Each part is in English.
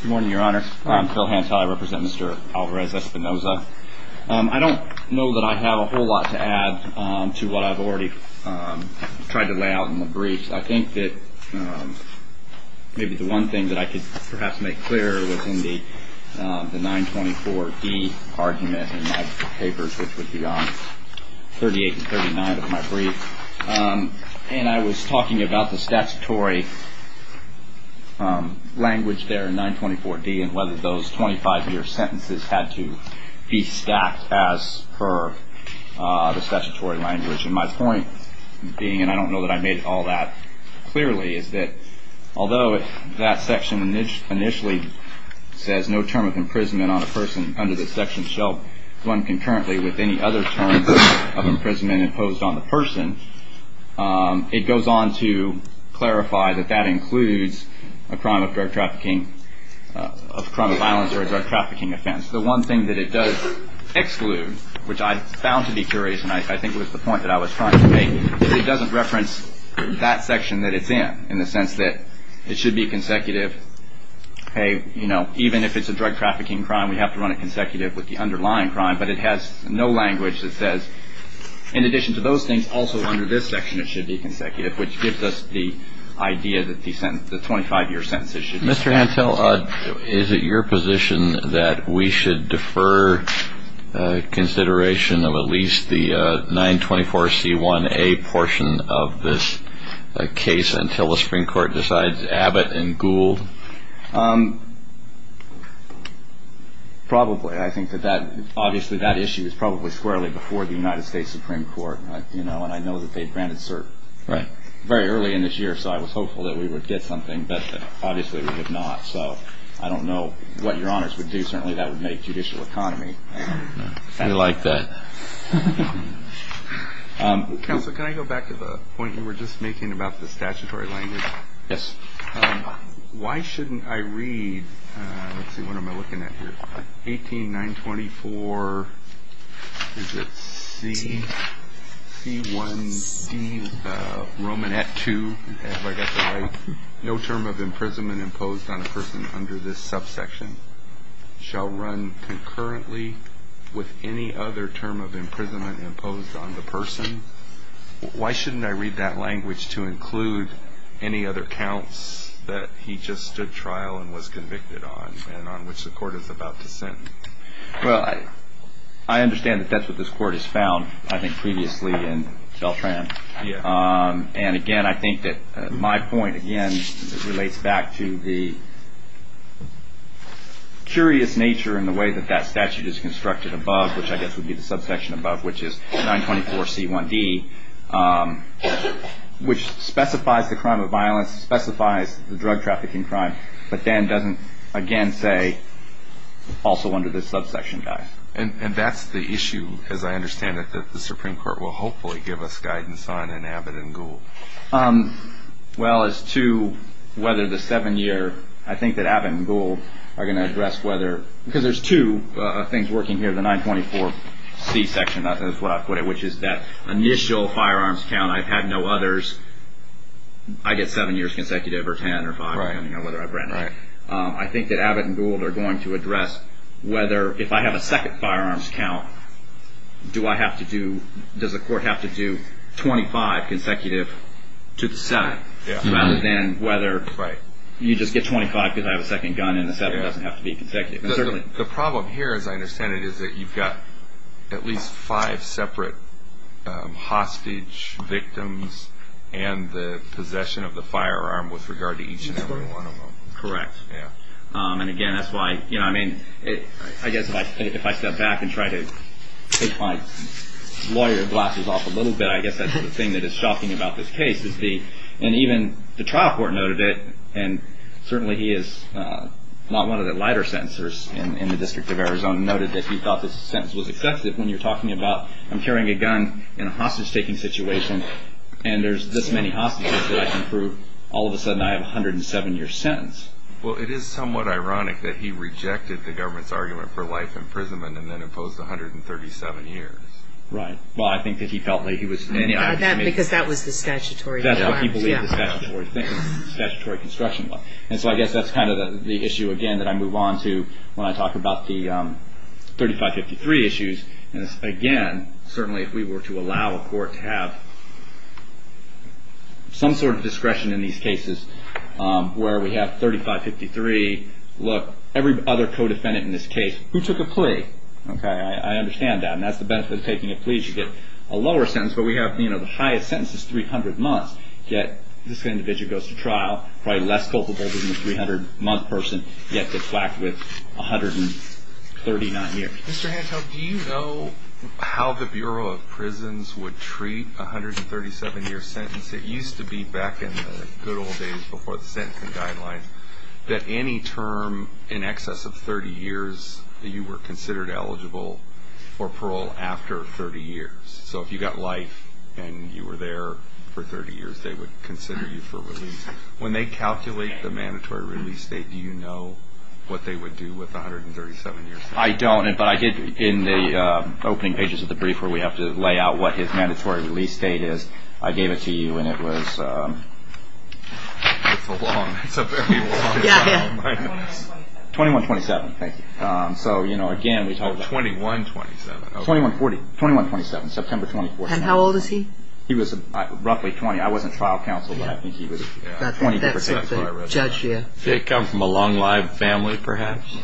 Good morning, Your Honor. I'm Phil Hantai. I represent Mr. Alvarez-Espinoza. I don't know that I have a whole lot to add to what I've already tried to lay out in the briefs. I think that maybe the one thing that I could perhaps make clear was in the 924d argument in my papers, which would be on 38 and 39 of my brief. And I was talking about the statutory language there in 924d and whether those 25-year sentences had to be stacked as per the statutory language. And my point being, and I don't know that I made all that clearly, is that although that section initially says no term of imprisonment on a person under the section which shall run concurrently with any other terms of imprisonment imposed on the person, it goes on to clarify that that includes a crime of drug trafficking, a crime of violence or a drug trafficking offense. The one thing that it does exclude, which I found to be curious, and I think was the point that I was trying to make, is it doesn't reference that section that it's in, in the sense that it should be consecutive. Hey, you know, even if it's a drug trafficking crime, we have to run it consecutive with the underlying crime. But it has no language that says, in addition to those things, also under this section it should be consecutive, which gives us the idea that the 25-year sentences should be consecutive. Mr. Hantel, is it your position that we should defer consideration of at least the 924c1a portion of this case until the Supreme Court decides Abbott and Gould? Probably. I think that obviously that issue is probably squarely before the United States Supreme Court, you know, and I know that they granted cert very early in this year, so I was hopeful that we would get something, but obviously we did not. So I don't know what Your Honors would do. Certainly that would make judicial economy. We like that. Counsel, can I go back to the point you were just making about the statutory language? Yes. Why shouldn't I read, let's see, what am I looking at here? 18, 924, is it c, c1, c, Romanette 2, have I got that right? No term of imprisonment imposed on a person under this subsection shall run concurrently with any other term of imprisonment imposed on the person. Why shouldn't I read that language to include any other counts that he just stood trial and was convicted on and on which the court is about to sentence? Well, I understand that that's what this court has found, I think, previously in Beltran, and, again, I think that my point, again, relates back to the curious nature in the way that that statute is constructed above, which I guess would be the subsection above, which is 924c1d, which specifies the crime of violence, specifies the drug trafficking crime, but then doesn't, again, say also under this subsection, guys. And that's the issue, as I understand it, that the Supreme Court will hopefully give us guidance on in Abbott and Gould. Well, as to whether the seven-year, I think that Abbott and Gould are going to address whether, because there's two things working here, the 924c section, that's what I put it, which is that initial firearms count, I've had no others, I get seven years consecutive or ten or five depending on whether I've read it. I think that Abbott and Gould are going to address whether, if I have a second firearms count, do I have to do, does the court have to do 25 consecutive to the seven, rather than whether you just get 25 because I have a second gun and the seven doesn't have to be consecutive. The problem here, as I understand it, is that you've got at least five separate hostage victims and the possession of the firearm with regard to each and every one of them. Correct. Yeah. And again, that's why, I mean, I guess if I step back and try to take my lawyer glasses off a little bit, I guess that's the thing that is shocking about this case is the, and even the trial court noted it, and certainly he is not one of the lighter sentencers in the District of Arizona, noted that he thought this sentence was excessive when you're talking about, I'm carrying a gun in a hostage-taking situation and there's this many hostages that I can prove. All of a sudden I have a 107-year sentence. Well, it is somewhat ironic that he rejected the government's argument for life imprisonment and then imposed 137 years. Right. Well, I think that he felt like he was, I mean. Because that was the statutory firearms. That's what he believed the statutory construction was. And so I guess that's kind of the issue, again, that I move on to when I talk about the 3553 issues. And again, certainly if we were to allow a court to have some sort of discretion in these cases where we have 3553, look, every other co-defendant in this case who took a plea, okay, I understand that. And that's the benefit of taking a plea is you get a lower sentence. But we have, you know, the highest sentence is 300 months, yet this individual goes to trial, probably less culpable than the 300-month person, yet gets whacked with 139 years. Mr. Hantel, do you know how the Bureau of Prisons would treat a 137-year sentence? It used to be back in the good old days before the sentencing guidelines that any term in excess of 30 years, you were considered eligible for parole after 30 years. So if you got life and you were there for 30 years, they would consider you for release. When they calculate the mandatory release date, do you know what they would do with a 137-year sentence? I don't, but I did in the opening pages of the brief where we have to lay out what his mandatory release date is, I gave it to you and it was 2127, thank you. So, you know, again, we talked about it. 2127. 2127, September 24th. And how old is he? He was roughly 20. I wasn't trial counsel, but I think he was 20. That's the judge, yeah. Did it come from a long-lived family, perhaps?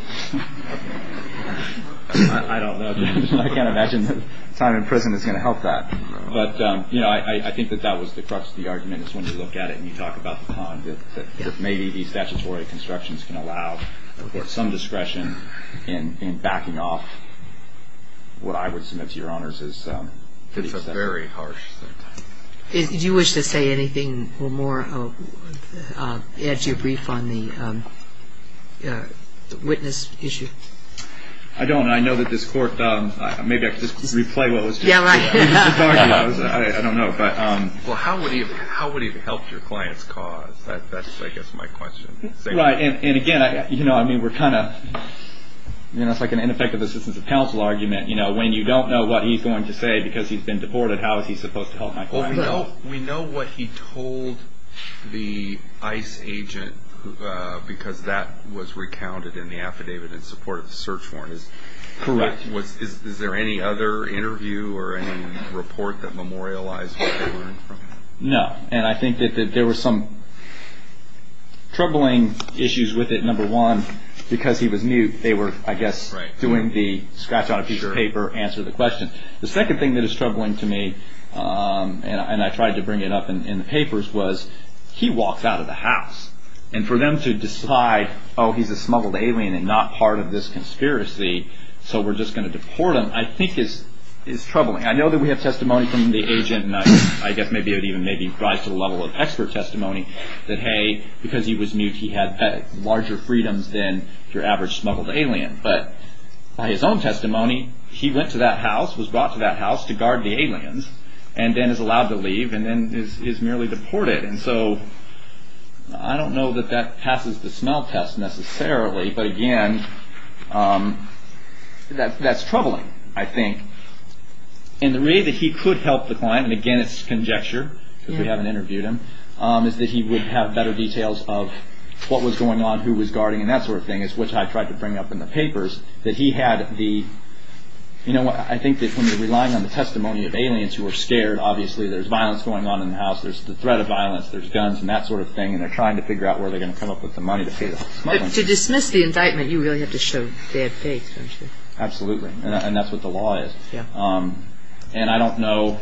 I don't know. I can't imagine that time in prison is going to help that. But, you know, I think that that was the crux of the argument is when you look at it and you talk about the con, that maybe the statutory constructions can allow some discretion in backing off what I would submit to your honors. It's a very harsh sentence. Did you wish to say anything more, add to your brief on the witness issue? I don't. I know that this court, maybe I could just replay what was just said. Yeah, right. I don't know. Well, how would he have helped your client's cause? That's, I guess, my question. Right. And, again, you know, I mean, we're kind of, you know, it's like an ineffective assistance of counsel argument. You know, when you don't know what he's going to say because he's been deported, how is he supposed to help my client? Well, we know what he told the ICE agent because that was recounted in the affidavit in support of the search warrant. Correct. Is there any other interview or any report that memorialized what they were in for? No. And I think that there were some troubling issues with it, number one, because he was mute. They were, I guess, doing the scratch on a piece of paper, answer the question. The second thing that is troubling to me, and I tried to bring it up in the papers, was he walks out of the house. And for them to decide, oh, he's a smuggled alien and not part of this conspiracy, so we're just going to deport him, I think is troubling. I know that we have testimony from the agent, and I guess maybe it would even maybe rise to the level of expert testimony, that, hey, because he was mute, he had larger freedoms than your average smuggled alien. But by his own testimony, he went to that house, was brought to that house to guard the aliens, and then is allowed to leave and then is merely deported. And so I don't know that that passes the smell test necessarily. But, again, that's troubling, I think. And the way that he could help the client, and, again, it's conjecture because we haven't interviewed him, is that he would have better details of what was going on, who was guarding, and that sort of thing, which I tried to bring up in the papers, that he had the, you know what, I think that when you're relying on the testimony of aliens who are scared, obviously there's violence going on in the house, there's the threat of violence, there's guns and that sort of thing, and they're trying to figure out where they're going to come up with the money to pay the smugglers. But to dismiss the indictment, you really have to show dead faith, don't you? Absolutely, and that's what the law is. And I don't know,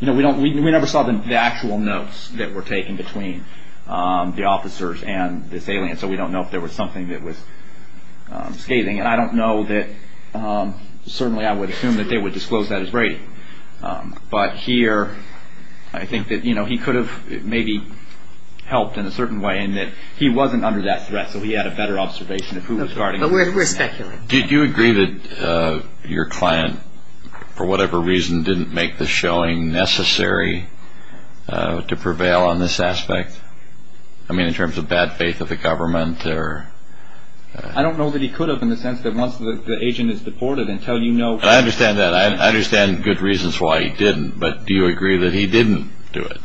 you know, we never saw the actual notes that were taken between the officers and this alien, so we don't know if there was something that was scathing. And I don't know that, certainly I would assume that they would disclose that as Brady. But here I think that, you know, he could have maybe helped in a certain way in that he wasn't under that threat, so he had a better observation of who was guarding. But we're speculating. Did you agree that your client, for whatever reason, didn't make the showing necessary to prevail on this aspect? I mean, in terms of bad faith of the government? I don't know that he could have in the sense that once the agent is deported until you know. I understand that. I understand good reasons why he didn't. But do you agree that he didn't do it?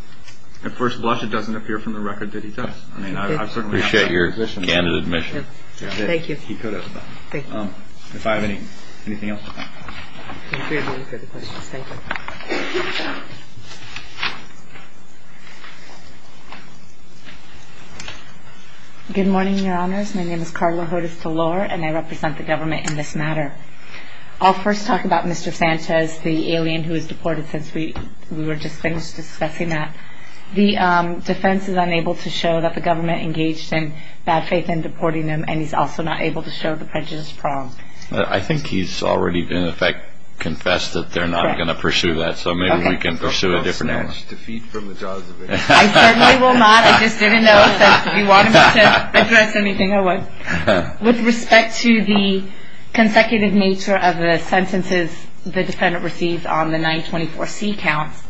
At first blush, it doesn't appear from the record that he does. I mean, I certainly appreciate your candid admission. Thank you. He could have. Thank you. If I have anything else. I'm here to answer the questions. Thank you. Good morning, Your Honors. My name is Carla Hodes-Delore, and I represent the government in this matter. I'll first talk about Mr. Sanchez, the alien who was deported since we were just finished discussing that. The defense is unable to show that the government engaged in bad faith in deporting him, and he's also not able to show the prejudice prong. I think he's already, in effect, confessed that they're not going to pursue that. So maybe we can pursue a different element. I certainly will not. I just didn't know if you wanted me to address anything or what. With respect to the consecutive nature of the sentences the defendant received on the 924C counts,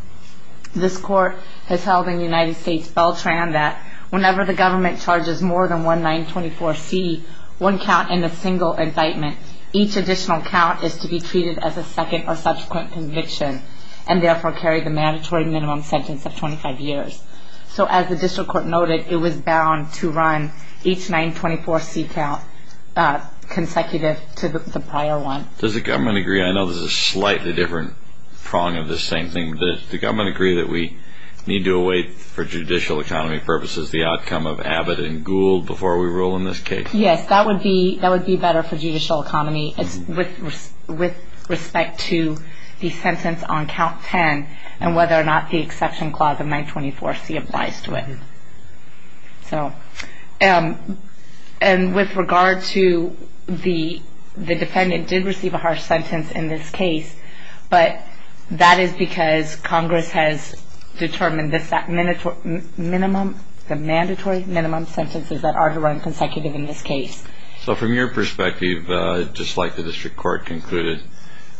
this court has held in the United States Beltran that whenever the government charges more than one 924C, one count in a single indictment, each additional count is to be treated as a second or subsequent conviction and therefore carry the mandatory minimum sentence of 25 years. So as the district court noted, it was bound to run each 924C count consecutive to the prior one. Does the government agree? I know this is a slightly different prong of the same thing. Does the government agree that we need to await, for judicial economy purposes, the outcome of Abbott and Gould before we rule in this case? Yes, that would be better for judicial economy with respect to the sentence on count 10 and whether or not the exception clause of 924C applies to it. And with regard to the defendant did receive a harsh sentence in this case, but that is because Congress has determined the mandatory minimum sentences that are to run consecutive in this case. So from your perspective, just like the district court concluded,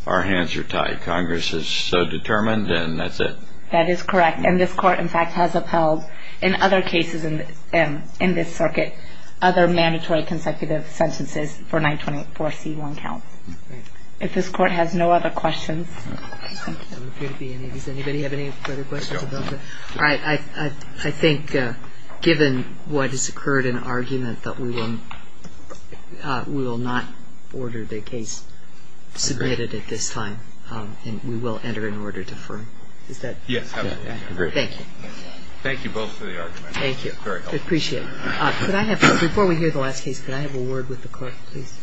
our hands are tied. Congress is so determined and that's it. That is correct. And this court, in fact, has upheld in other cases in this circuit other mandatory consecutive sentences for 924C1 counts. If this court has no other questions. Does anybody have any further questions? I think given what has occurred in argument that we will not order the case submitted at this time and we will enter an order to firm. Is that? Yes, absolutely. Thank you. Thank you both for the argument. Thank you. I appreciate it. Before we hear the last case, can I have a word with the court, please?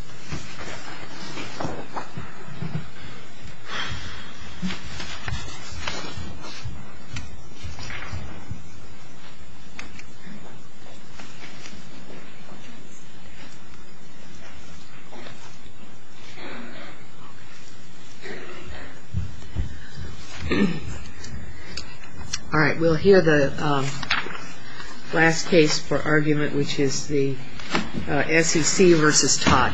All right. We'll hear the last case for argument, which is the SEC versus Todd.